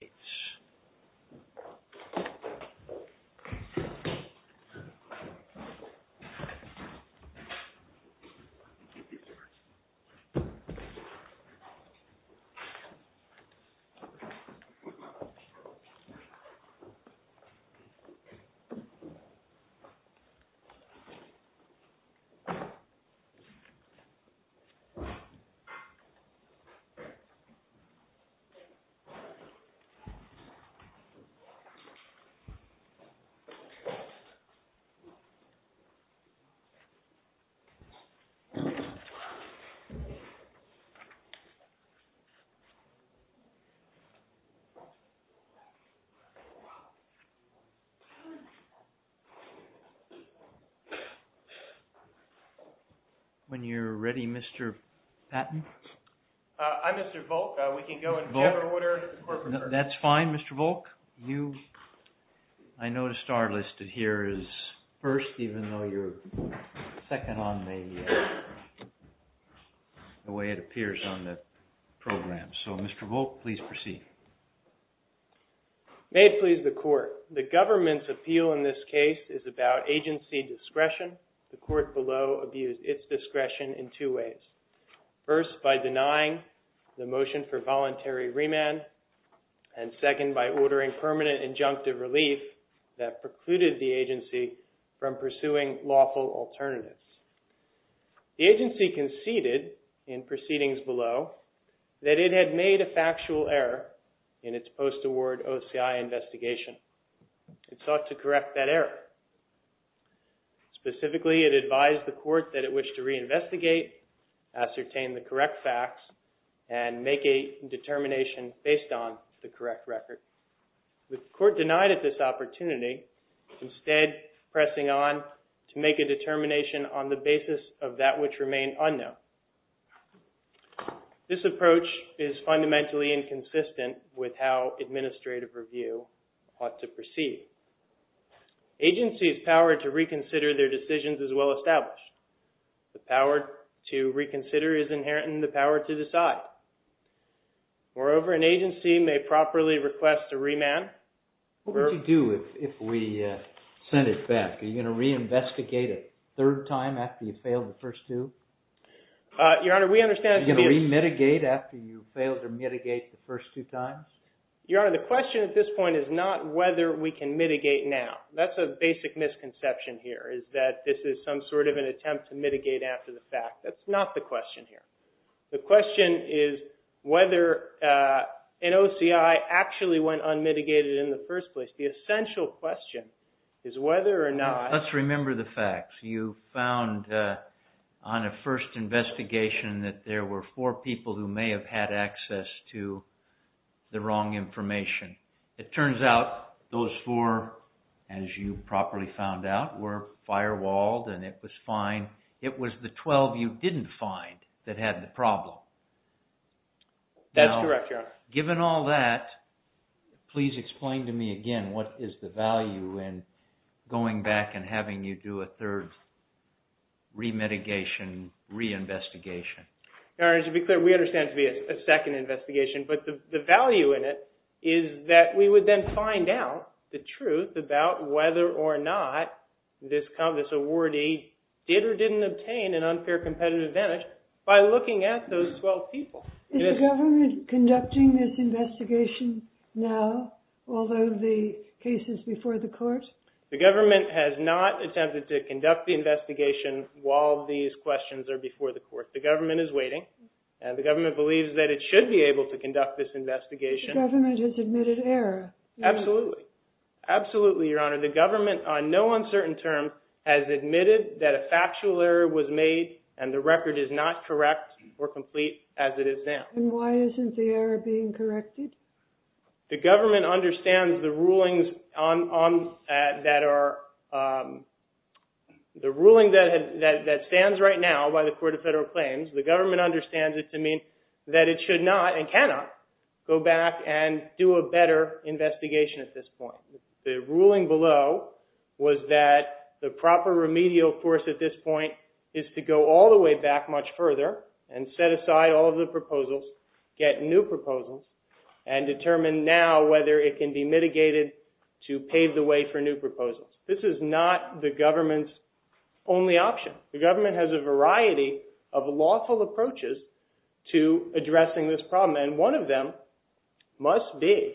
It's so so that's May it please the Court. The government's appeal in this case is about agency discretion. The court below abused its discretion in two ways. First, by denying the motion for voluntary remand and second, by ordering permanent injunctive relief that precluded the agency from pursuing lawful alternatives. The agency conceded in proceedings below that it had made a factual error in its post-award OCI investigation. It sought to correct that error. Specifically, it advised the court that it wished to reinvestigate, ascertain the correct facts, and make a determination based on the correct record. The court denied it this opportunity, instead pressing on to make a determination on the basis of that which remained unknown. This approach is fundamentally inconsistent with how administrative review ought to proceed. Agency's power to reconsider their decisions is well established. The power to reconsider is inherent in the power to decide. Moreover, an agency may properly request a remand. What would you do if we sent it back? Are you going to reinvestigate a third time after you failed the first two? Your Honor, we understand... Are you going to re-mitigate after you failed to mitigate the first two times? Your Honor, the question at this point is not whether we can mitigate now. That's a basic misconception here, is that this is some sort of an attempt to mitigate after the fact. That's not the question here. The question is whether an OCI actually went unmitigated in the first place. The essential question is whether or not... Let's remember the facts. You found on a first investigation that there were four people who may have had access to the wrong information. It turns out those four, as you properly found out, were firewalled and it was fine. It was the 12 you didn't find that had the problem. That's correct, Your Honor. Given all that, please explain to me again what is the value in going back and having you do a third re-mitigation, re-investigation? Your Honor, to be clear, we understand it to be a second investigation, but the value in it is that we would then find out the truth about whether or not this awardee did or didn't obtain an unfair competitive advantage by looking at those 12 people. Is the government conducting this investigation now, although the case is before the court? The government has not attempted to conduct the investigation while these questions are before the court. The government is waiting. The government believes that it should be able to conduct this investigation. The government has admitted error? Absolutely. Absolutely, Your Honor. The government, on no uncertain terms, has admitted that a factual error was made and the record is not correct or complete as it is now. Why isn't the error being corrected? The government understands the ruling that stands right now by the Court of Federal Claims. The government understands it to mean that it should not and cannot go back and do a better investigation at this point. The ruling below was that the proper remedial force at this point is to go all the way back further and set aside all of the proposals, get new proposals, and determine now whether it can be mitigated to pave the way for new proposals. This is not the government's only option. The government has a variety of lawful approaches to addressing this problem, and one of them must be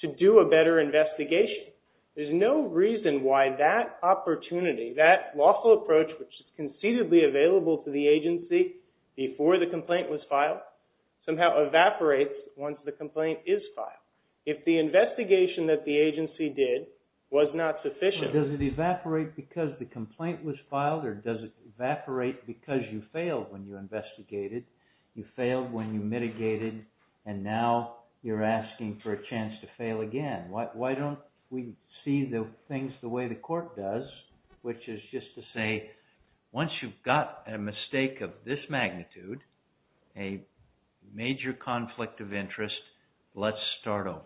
to do a better investigation. There's no reason why that opportunity, that lawful approach, which is concededly available to the agency before the complaint was filed, somehow evaporates once the complaint is filed. If the investigation that the agency did was not sufficient... Does it evaporate because the complaint was filed, or does it evaporate because you failed when you investigated, you failed when you mitigated, and now you're asking for a chance to fail again? Why don't we see the things the way the court does, which is just to say, once you've got a mistake of this magnitude, a major conflict of interest, let's start over.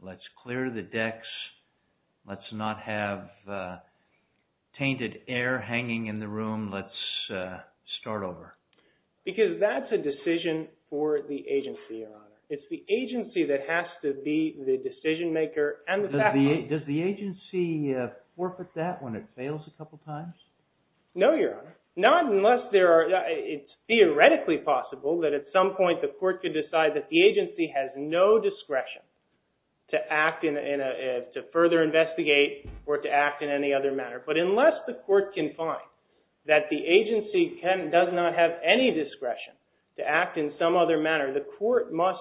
Let's clear the decks. Let's not have tainted air hanging in the room. Let's start over. Because that's a decision for the agency, Your Honor. It's the agency that has to be the decision maker and the fact... Does the agency forfeit that when it fails a couple times? No, Your Honor. Not unless it's theoretically possible that at some point the court could decide that the agency has no discretion to further investigate or to act in any other manner. But unless the court can find that the agency does not have any discretion to act in some other manner, the court must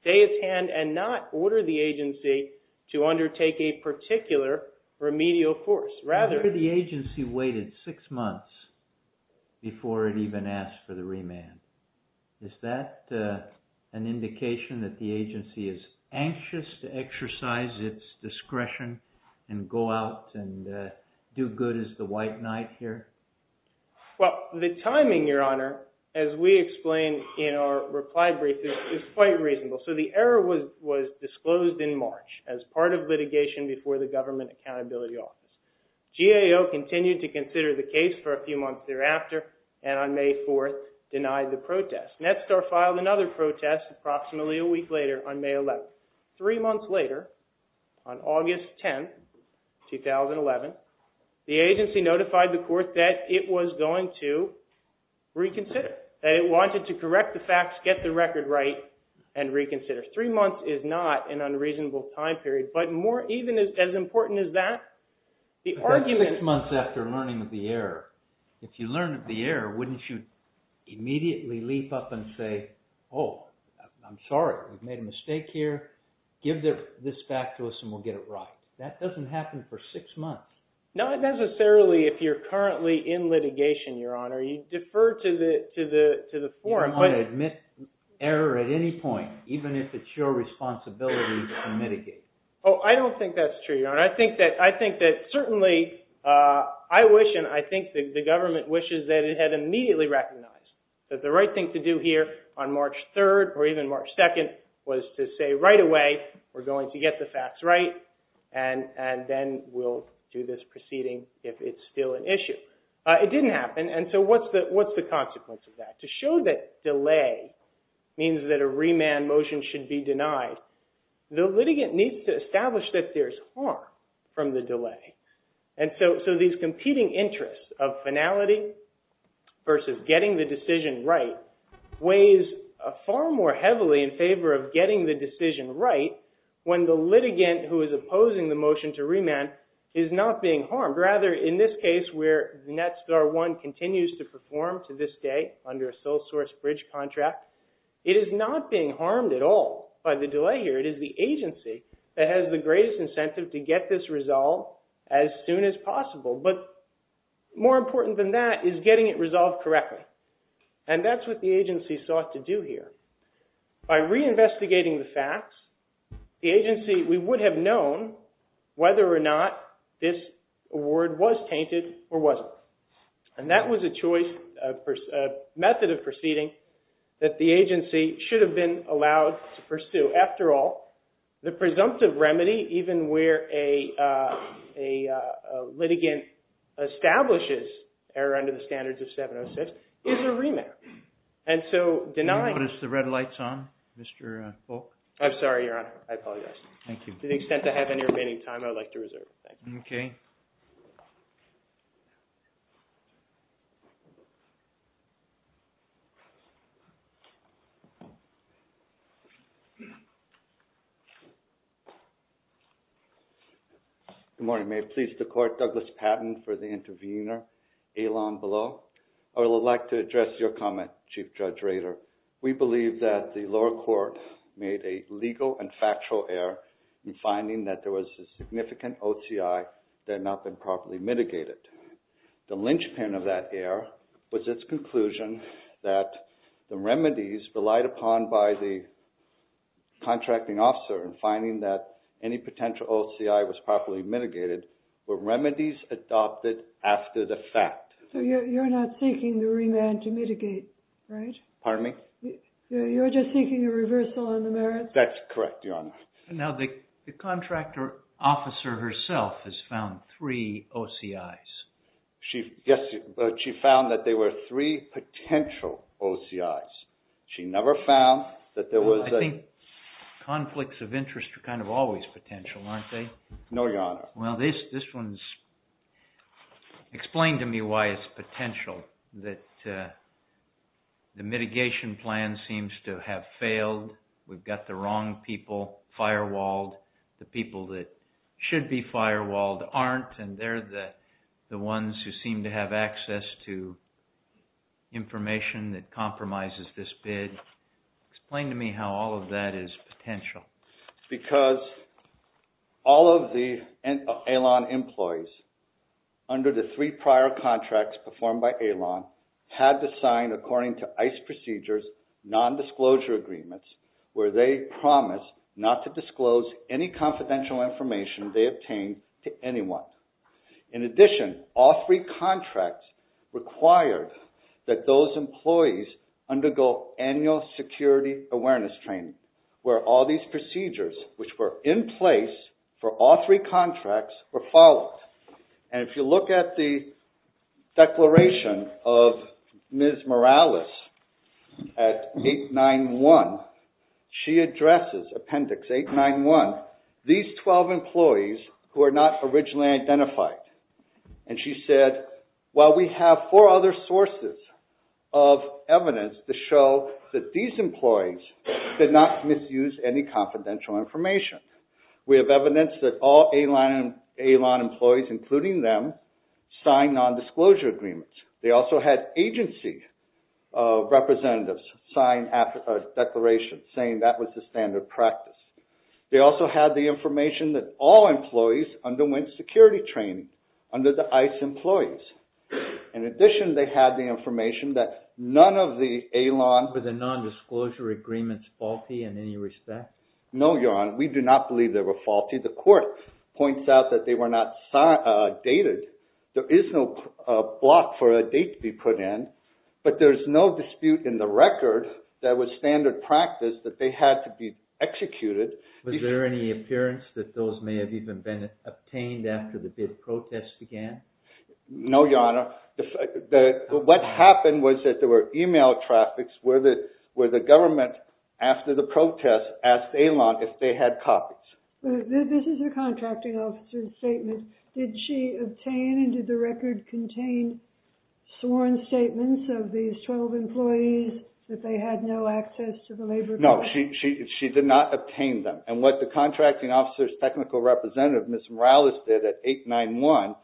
stay its hand and not order the agency to undertake a particular remedial course. The agency waited six months before it even asked for the remand. Is that an indication that the agency is anxious to exercise its discretion and go out and do good as the white knight here? Well, the timing, Your Honor, as we explained in our reply brief, is quite reasonable. So the error was disclosed in March as part of litigation before the Government Accountability Office. GAO continued to consider the case for a few months thereafter and on May 4th denied the protest. Netstar filed another protest approximately a week later on May 11th. Three months later, on August 10th, 2011, the agency notified the court that it was going to reconsider. They wanted to correct the facts, get the record right, and reconsider. Three months is not an unreasonable time period. But even as important as that, the argument— But that's six months after learning of the error. If you learn of the error, wouldn't you immediately leap up and say, oh, I'm sorry, we've made a mistake here. Give this back to us and we'll get it right. That doesn't happen for six months. Not necessarily if you're currently in litigation, Your Honor. You defer to the forum. I don't want to admit error at any point, even if it's your responsibility to mitigate. Oh, I don't think that's true, Your Honor. I think that certainly I wish and I think the government wishes that it had immediately recognized that the right thing to do here on March 3rd or even March 2nd was to say right away, we're going to get the facts right and then we'll do this proceeding if it's still an issue. It didn't happen. And so what's the consequence of that? To show that delay means that a remand motion should be denied, the litigant needs to establish that there's harm from the delay. And so these competing interests of finality versus getting the decision right weighs far more heavily in favor of getting the decision right when the litigant who is opposing the motion to remand is not being harmed. Rather, in this case where NetStar One continues to perform to this day under a sole source bridge contract, it is not being harmed at all by the delay here. It is the agency that has the greatest incentive to get this resolved as soon as possible. But more important than that is getting it resolved correctly. And that's what the agency sought to do here. By reinvestigating the facts, the agency, we would have known whether or not this award was tainted or wasn't. And that was a choice, a method of proceeding that the agency should have been allowed to pursue. After all, the presumptive remedy even where a litigant establishes error under the standards of 706 is a remand. And so denying- Can you put the red lights on, Mr. Folk? I'm sorry, Your Honor. I apologize. Thank you. To the extent I have any remaining time, I would like to reserve. Thank you. Okay. Good morning. May it please the Court, Douglas Patton for the intervener, Elon Belau. I would like to address your comment, Chief Judge Rader. We believe that the lower court made a legal and factual error in finding that there was a significant OCI that had not been properly mitigated. The linchpin of that error was its conclusion that the remedies relied upon by the contracting officer in finding that any potential OCI was properly mitigated were remedies adopted after the fact. So you're not seeking the remand to mitigate, right? Pardon me? You're just seeking a reversal on the merits? That's correct, Your Honor. Now, the contractor officer herself has found three OCIs. She found that there were three potential OCIs. She never found that there was a- I think conflicts of interest are kind of always potential, aren't they? No, Your Honor. Well, this one's explained to me why it's potential, that the mitigation plan seems to have failed. We've got the wrong people firewalled. The people that should be firewalled aren't, and they're the ones who seem to have access to information that compromises this bid. Explain to me how all of that is potential. Because all of the AILON employees under the three prior contracts performed by AILON had to sign, according to ICE procedures, non-disclosure agreements where they promised not to disclose any confidential information they obtained to anyone. In addition, all three contracts required that those employees undergo annual security awareness training where all these procedures, which were in place for all three contracts, were followed. And if you look at the declaration of Ms. Morales at 891, she addresses, appendix 891, these 12 employees who are not originally identified. And she said, while we have four other sources of evidence to show that these employees did not misuse any confidential information, we have evidence that all AILON employees, including them, signed non-disclosure agreements. They also had agency representatives sign a declaration saying that was the standard practice. They also had the information that all employees underwent security training under the ICE employees. In addition, they had the information that none of the AILON... Were the non-disclosure agreements faulty in any respect? No, Your Honor. We do not believe they were faulty. The court points out that they were not dated. There is no block for a date to be put in, but there's no dispute in the record that standard practice that they had to be executed. Was there any appearance that those may have even been obtained after the bid protest began? No, Your Honor. What happened was that there were email traffics where the government, after the protest, asked AILON if they had copies. This is a contracting officer's statement. Did she obtain and did the record contain sworn statements of these 12 employees that they had no access to the labor board? No, she did not obtain them. And what the contracting officer's technical representative, Ms. Morales, did at 891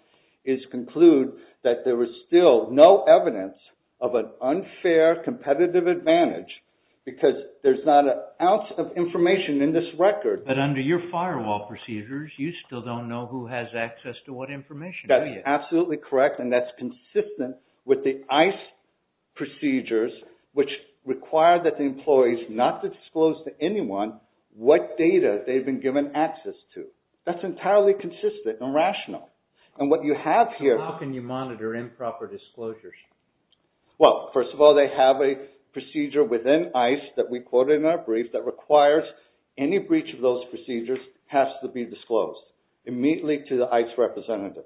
is conclude that there was still no evidence of an unfair competitive advantage because there's not an ounce of information in this record. But under your firewall procedures, you still don't know who has access to what information, do you? Absolutely correct. And that's consistent with the ICE procedures, which require that the employees not to disclose to anyone what data they've been given access to. That's entirely consistent and rational. And what you have here... How can you monitor improper disclosures? Well, first of all, they have a procedure within ICE that we quoted in our brief that requires any breach of those procedures has to be disclosed immediately to the ICE representative.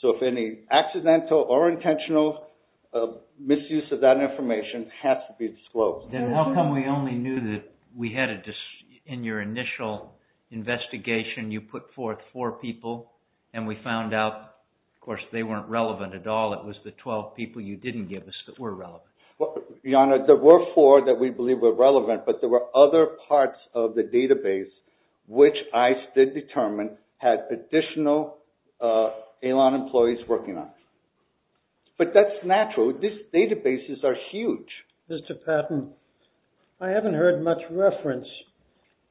So if any accidental or intentional misuse of that information has to be disclosed. Then how come we only knew that we had a... In your initial investigation, you put forth four people and we found out, of course, they weren't relevant at all. It was the 12 people you didn't give us that were relevant. Well, Your Honor, there were four that we believe were relevant, but there were other parts of the database, which ICE did determine had additional ALON employees working on. But that's natural. These databases are huge. Mr. Patton, I haven't heard much reference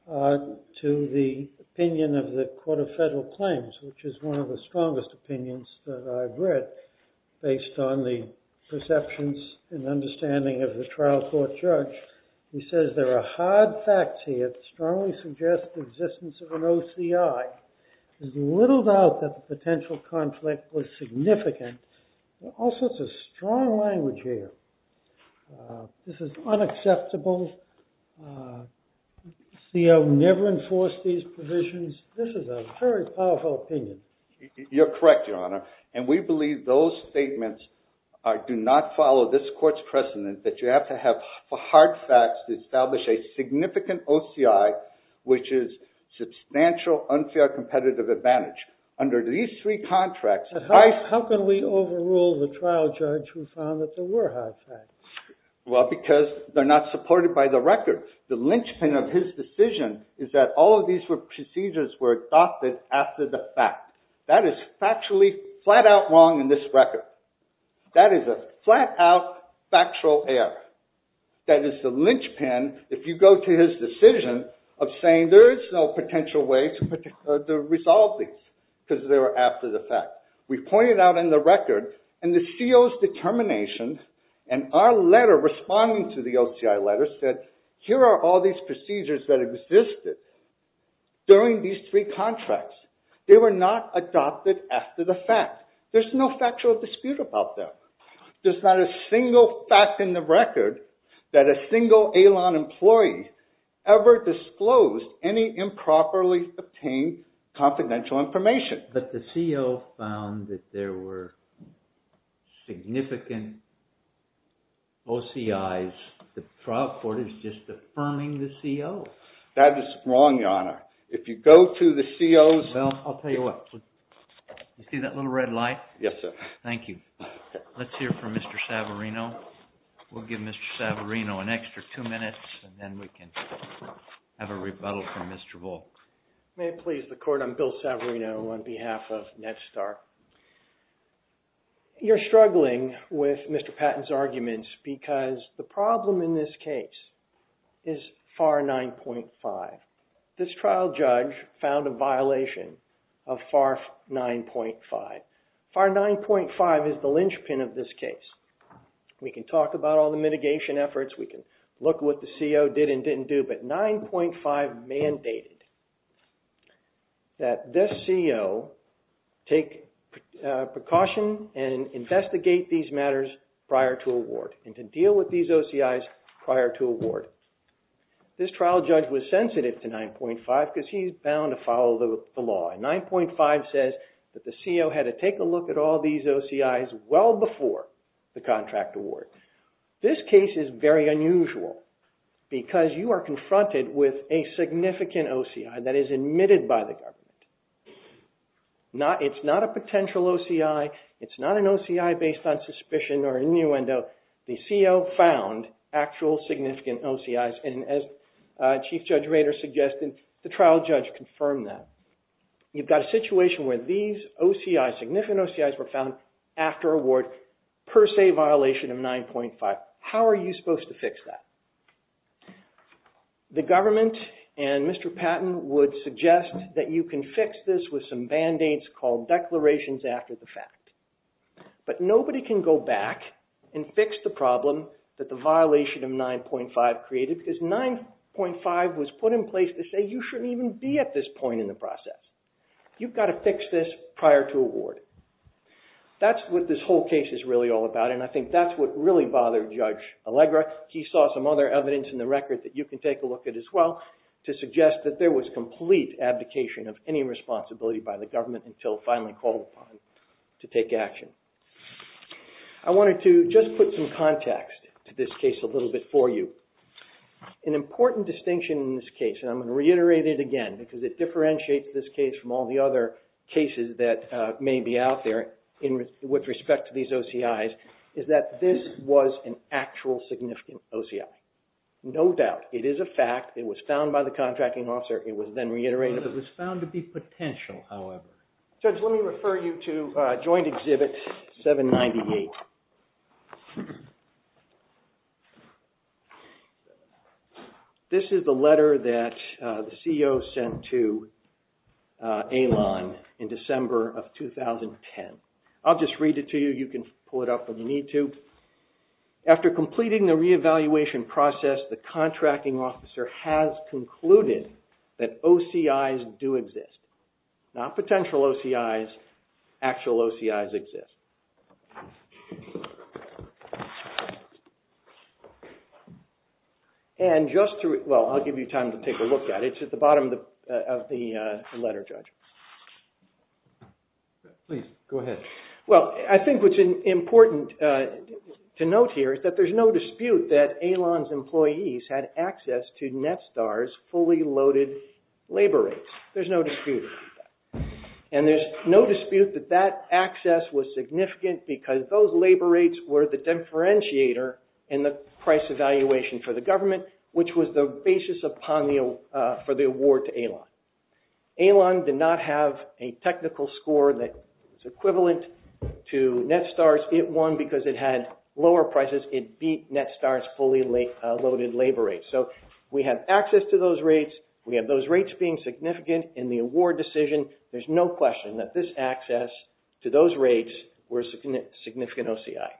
to the opinion of the Court of Federal Claims, which is one of the strongest opinions that I've read based on the perceptions and understanding of the trial court judge. He says there are hard facts here that strongly suggest the existence of an OCI. There's little doubt that the potential conflict was significant. Also, it's a strong language here. This is unacceptable. The CO never enforced these provisions. This is a very powerful opinion. You're correct, Your Honor. And we believe those statements do not follow this court's precedent that you have to have for hard facts to establish a significant OCI, which is substantial unfair competitive advantage. Under these three contracts, ICE- How can we overrule the trial judge who found that there were hard facts? Well, because they're not supported by the record. The linchpin of his decision is that all of these procedures were adopted after the fact. That is factually flat-out wrong in this record. That is a flat-out factual error. That is the linchpin, if you go to his decision, of saying there is no potential way to resolve these because they were after the fact. We pointed out in the record, and the CO's determination, and our letter responding to the OCI letter said, here are all these procedures that existed during these three contracts. They were not adopted after the fact. There's no factual dispute about that. There's not a single fact in the record that a single ALON employee ever disclosed any improperly obtained confidential information. But the CO found that there were significant OCI's. The trial court is just affirming the CO. That is wrong, your honor. If you go to the CO's- Well, I'll tell you what. You see that little red light? Yes, sir. Thank you. Let's hear from Mr. Savarino. We'll give Mr. Savarino an extra two minutes, and then we can have a rebuttal from Mr. Volk. May it please the court, I'm Bill Savarino on behalf of NETSTAR. You're struggling with Mr. Patton's arguments because the problem in this case is FAR 9.5. This trial judge found a violation of FAR 9.5. FAR 9.5 is the linchpin of this case. We can talk about all the mitigation efforts. We can look what the CO did and didn't do. But 9.5 mandated that this CO take precaution and investigate these matters prior to award and to deal with these OCI's prior to award. This trial judge was sensitive to 9.5 because he's bound to follow the law. 9.5 says that the CO had to take a look at all these OCI's well before the contract award. This case is very unusual because you are confronted with a significant OCI that is admitted by the government. It's not a potential OCI. It's not an OCI based on suspicion or innuendo. The CO found actual significant OCI's. And as Chief Judge Rader suggested, the trial judge confirmed that. You've got a situation where these OCI's, significant OCI's were found after award per say violation of 9.5. How are you supposed to fix that? The government and Mr. Patton would suggest that you can fix this with some band-aids called declarations after the fact. But nobody can go back and fix the problem that the violation of 9.5 created because 9.5 was put in place to say you shouldn't even be at this point in the process. You've got to fix this prior to award. That's what this whole case is really all about and I think that's what really bothered Judge Allegra. He saw some other evidence in the record that you can take a look at as well to suggest that there was complete abdication of any responsibility by the government until finally called upon to take action. I wanted to just put some context to this case a little bit for you. An important distinction in this case, and I'm going to reiterate it again because it is one of the other cases that may be out there with respect to these OCI's, is that this was an actual significant OCI. No doubt. It is a fact. It was found by the contracting officer. It was then reiterated. It was found to be potential, however. Judge, let me refer you to joint exhibit 798. This is the letter that the CEO sent to AILON in December of 2010. I'll just read it to you. You can pull it up when you need to. After completing the re-evaluation process, the contracting officer has concluded that OCI's do exist. Not potential OCI's, actual OCI's exist. And just to, well, I'll give you time to take a look at it. It's at the bottom of the letter, Judge. Please, go ahead. Well, I think what's important to note here is that there's no dispute that AILON's employees had access to Netstar's fully loaded labor rates. There's no dispute. And there's no dispute that that access was significant. Because those labor rates were the differentiator in the price evaluation for the government, which was the basis for the award to AILON. AILON did not have a technical score that is equivalent to Netstar's. It won because it had lower prices. It beat Netstar's fully loaded labor rates. So we have access to those rates. We have those rates being significant in the award decision. There's no question that this access to those rates was a significant OCI.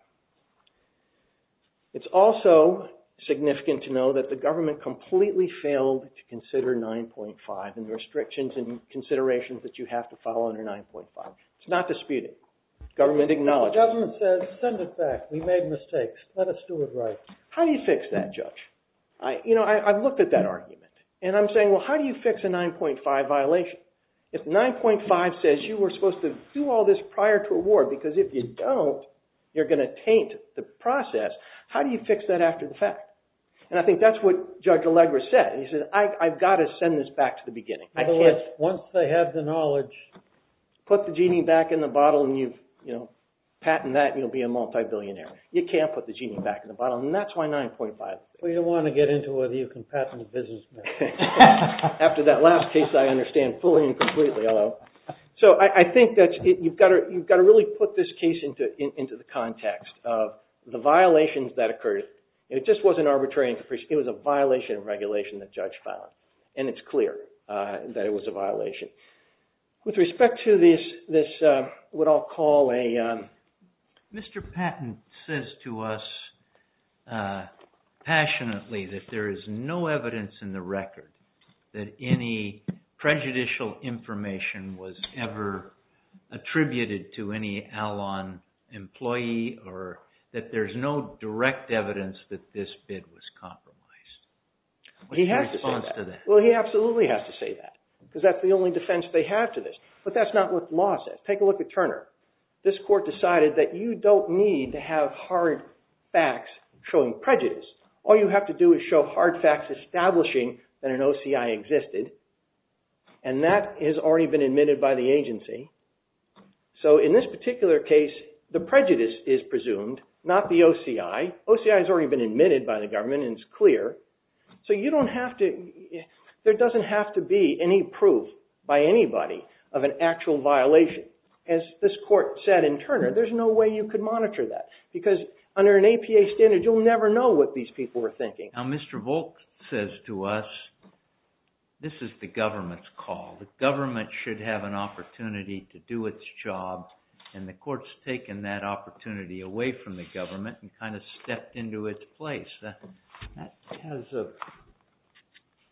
It's also significant to know that the government completely failed to consider 9.5 and the restrictions and considerations that you have to follow under 9.5. It's not disputed. Government acknowledges. Government says, send it back. We made mistakes. Let us do it right. How do you fix that, Judge? You know, I've looked at that argument. And I'm saying, well, how do you fix a 9.5 violation? If 9.5 says you were supposed to do all this prior to award because if you don't, you're going to taint the process. How do you fix that after the fact? And I think that's what Judge Allegra said. He said, I've got to send this back to the beginning. I can't. Once they have the knowledge. Put the genie back in the bottle and you've, you know, patent that. You'll be a multibillionaire. You can't put the genie back in the bottle. And that's why 9.5. We don't want to get into whether you can patent a business. After that last case, I understand fully and completely. So I think that you've got to really put this case into the context of the violations that occurred. It just wasn't arbitrary and capricious. It was a violation of regulation that Judge found. And it's clear that it was a violation. With respect to this, what I'll call a... that any prejudicial information was ever attributed to any Al-An employee or that there's no direct evidence that this bid was compromised. What's your response to that? Well, he absolutely has to say that because that's the only defense they have to this. But that's not what the law says. Take a look at Turner. This court decided that you don't need to have hard facts showing prejudice. All you have to do is show hard facts establishing that an OCI existed. And that has already been admitted by the agency. So in this particular case, the prejudice is presumed, not the OCI. OCI has already been admitted by the government and it's clear. So you don't have to... there doesn't have to be any proof by anybody of an actual violation. As this court said in Turner, there's no way you could monitor that. Because under an APA standard, you'll never know what these people are thinking. Now, Mr. Volk says to us, this is the government's call. The government should have an opportunity to do its job and the court's taken that opportunity away from the government and kind of stepped into its place. That has a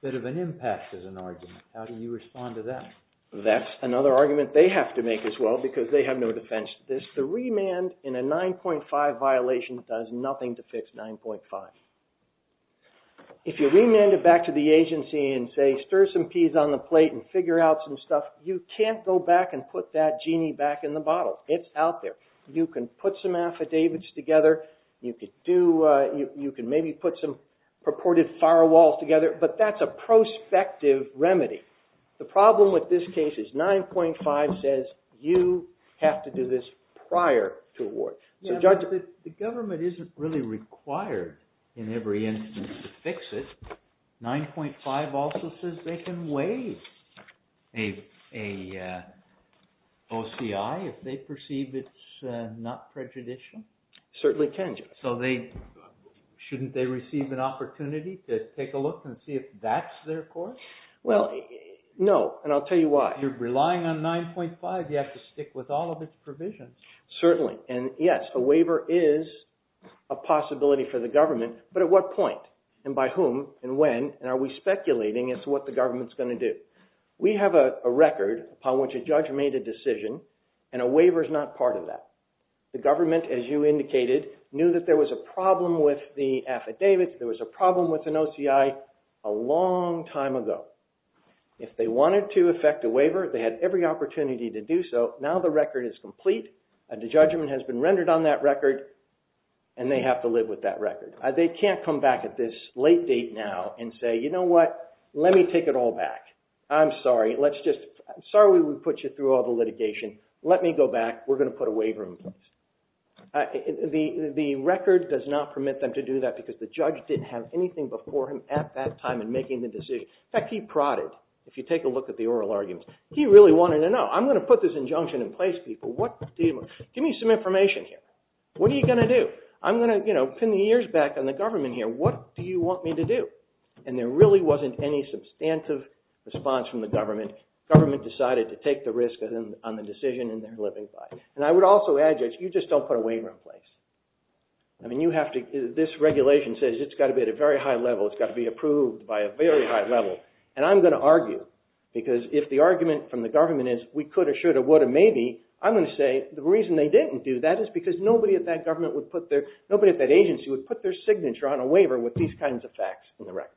bit of an impact as an argument. How do you respond to that? That's another argument they have to make as well because they have no defense to this. The remand in a 9.5 violation does nothing to fix 9.5. If you remand it back to the agency and say, stir some peas on the plate and figure out some stuff, you can't go back and put that genie back in the bottle. It's out there. You can put some affidavits together. You could do... you can maybe put some purported firewalls together. But that's a prospective remedy. The problem with this case is 9.5 says you have to do this prior to award. The government isn't really required in every instance to fix it. 9.5 also says they can waive a OCI if they perceive it's not prejudicial. Certainly can, Judge. So shouldn't they receive an opportunity to take a look and see if that's their course? Well, no. And I'll tell you why. You're relying on 9.5. You have to stick with all of its provisions. Certainly. And yes, a waiver is a possibility for the government. But at what point? And by whom and when? And are we speculating as to what the government's going to do? We have a record upon which a judge made a decision and a waiver is not part of that. The government, as you indicated, knew that there was a problem with the affidavit. There was a problem with an OCI a long time ago. If they wanted to effect a waiver, they had every opportunity to do so. Now the record is complete and the judgment has been rendered on that record and they have to live with that record. They can't come back at this late date now and say, you know what? Let me take it all back. I'm sorry. Let's just, sorry we put you through all the litigation. Let me go back. We're going to put a waiver in place. And the record does not permit them to do that because the judge didn't have anything before him at that time in making the decision. In fact, he prodded. If you take a look at the oral arguments, he really wanted to know. I'm going to put this injunction in place, people. What do you want? Give me some information here. What are you going to do? I'm going to, you know, pin the ears back on the government here. What do you want me to do? And there really wasn't any substantive response from the government. Government decided to take the risk on the decision in their living body. And I would also add, Judge, you just don't put a waiver in place. I mean, you have to, this regulation says it's got to be at a very high level. It's got to be approved by a very high level. And I'm going to argue because if the argument from the government is we could or should or would or maybe, I'm going to say the reason they didn't do that is because nobody at that government would put their, nobody at that agency would put their signature on a waiver with these kinds of facts in the record.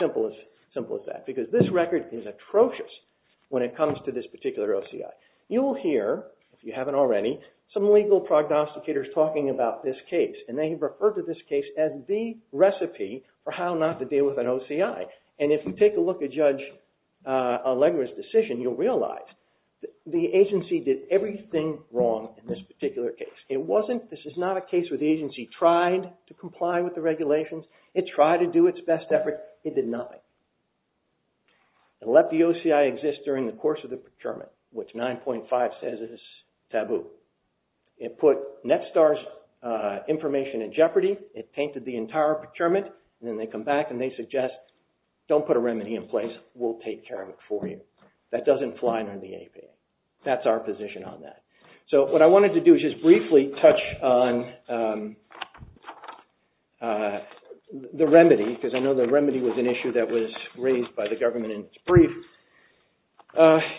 Simple as that. Because this record is atrocious when it comes to this particular OCI. You will hear, if you haven't already, some legal prognosticators talking about this case. And they refer to this case as the recipe for how not to deal with an OCI. And if you take a look at Judge Allegra's decision, you'll realize the agency did everything wrong in this particular case. It wasn't, this is not a case where the agency tried to comply with the regulations. It tried to do its best effort. It did nothing. It let the OCI exist during the course of the procurement, which 9.5 says is taboo. It put Netstar's information in jeopardy. It tainted the entire procurement. And then they come back and they suggest, don't put a remedy in place. We'll take care of it for you. That doesn't fly under the APA. That's our position on that. So what I wanted to do is just briefly touch on the remedy, because I know the remedy was an issue that was raised by the government in its brief.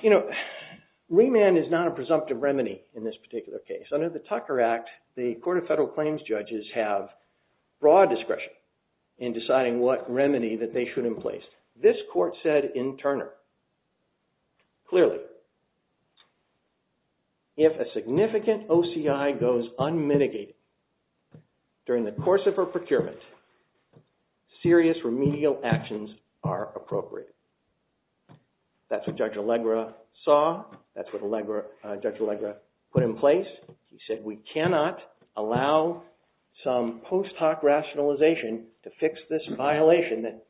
You know, remand is not a presumptive remedy in this particular case. Under the Tucker Act, the Court of Federal Claims judges have broad discretion in deciding what remedy that they should emplace. This court said in Turner, clearly, if a significant OCI goes unmitigated during the course of a procurement, serious remedial actions are appropriate. That's what Judge Allegra saw. That's what Judge Allegra put in place. He said we cannot allow some post hoc rationalization to fix this violation that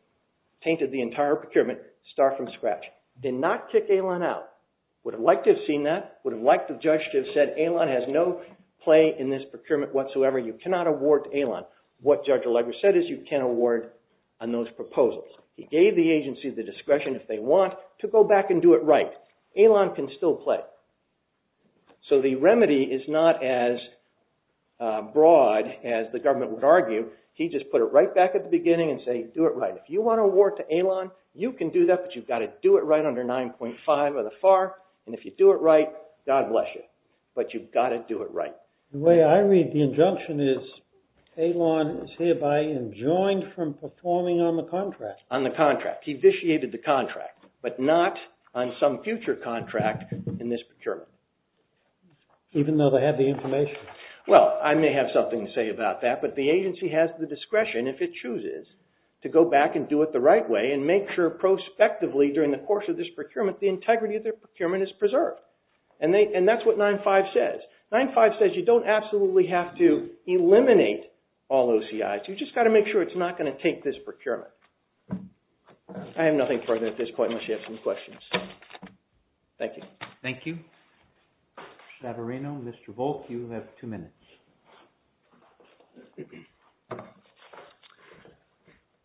tainted the entire procurement, start from scratch. Did not kick Ailan out. Would have liked to have seen that. Would have liked the judge to have said, Ailan has no play in this procurement whatsoever. You cannot award Ailan. What Judge Allegra said is you can't award on those proposals. He gave the agency the discretion, if they want, to go back and do it right. Ailan can still play. So the remedy is not as broad as the government would argue. He just put it right back at the beginning and say, do it right. If you want to award to Ailan, you can do that. But you've got to do it right under 9.5 of the FAR. And if you do it right, God bless you. But you've got to do it right. The way I read the injunction is Ailan is hereby enjoined from performing on the contract. On the contract. He vitiated the contract. But not on some future contract in this procurement. Even though they have the information. Well, I may have something to say about that. But the agency has the discretion, if it chooses, to go back and do it the right way and make sure prospectively, during the course of this procurement, the integrity of their procurement is preserved. And that's what 9.5 says. 9.5 says you don't absolutely have to eliminate all OCIs. You've just got to make sure it's not going to take this procurement. I have nothing further at this point unless you have some questions. Thank you. Thank you. Chavarino, Mr. Volk, you have two minutes.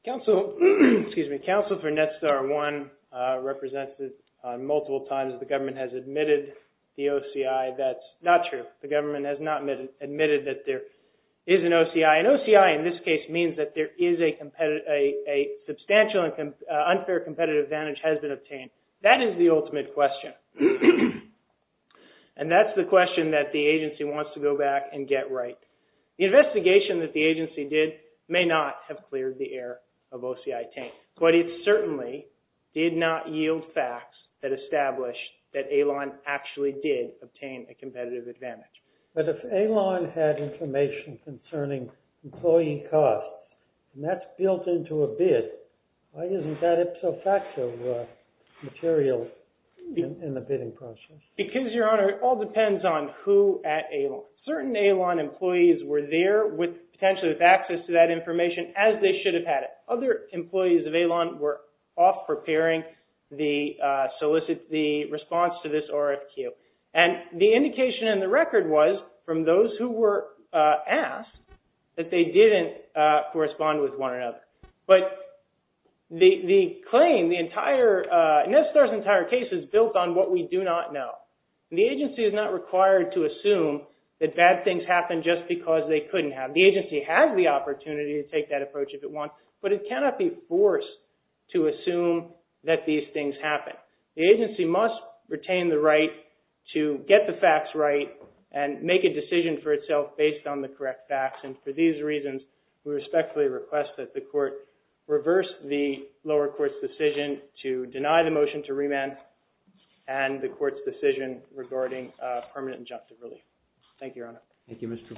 Counsel, excuse me. Counsel for NETSTAR 1 represented multiple times the government has admitted the OCI that's not true. The government has not admitted that there is an OCI. An OCI, in this case, means that there is a substantial unfair competitive advantage has been obtained. That is the ultimate question. And that's the question that the agency wants to go back and get right. The investigation that the agency did may not have cleared the air of OCI tank. But it certainly did not yield facts that established that AILON actually did obtain a competitive advantage. But if AILON had information concerning employee costs, and that's built into a bid, why isn't that ipso facto material in the bidding process? Because, Your Honor, it all depends on who at AILON. Certain AILON employees were there with potentially with access to that information as they should have had it. Other employees of AILON were off preparing the solicit, the response to this RFQ. And the indication in the record was, from those who were asked, that they didn't correspond with one another. But the claim, the entire, NETSTAR's entire case is built on what we do not know. The agency is not required to assume that bad things happen just because they couldn't have. The agency has the opportunity to take that approach if it wants. But it cannot be forced to assume that these things happen. The agency must retain the right to get the facts right and make a decision for itself based on the correct facts. And for these reasons, we respectfully request that the court reverse the lower court's decision to deny the motion to remand and the court's decision regarding permanent injunctive relief. Thank you, Your Honor. Thank you, Mr.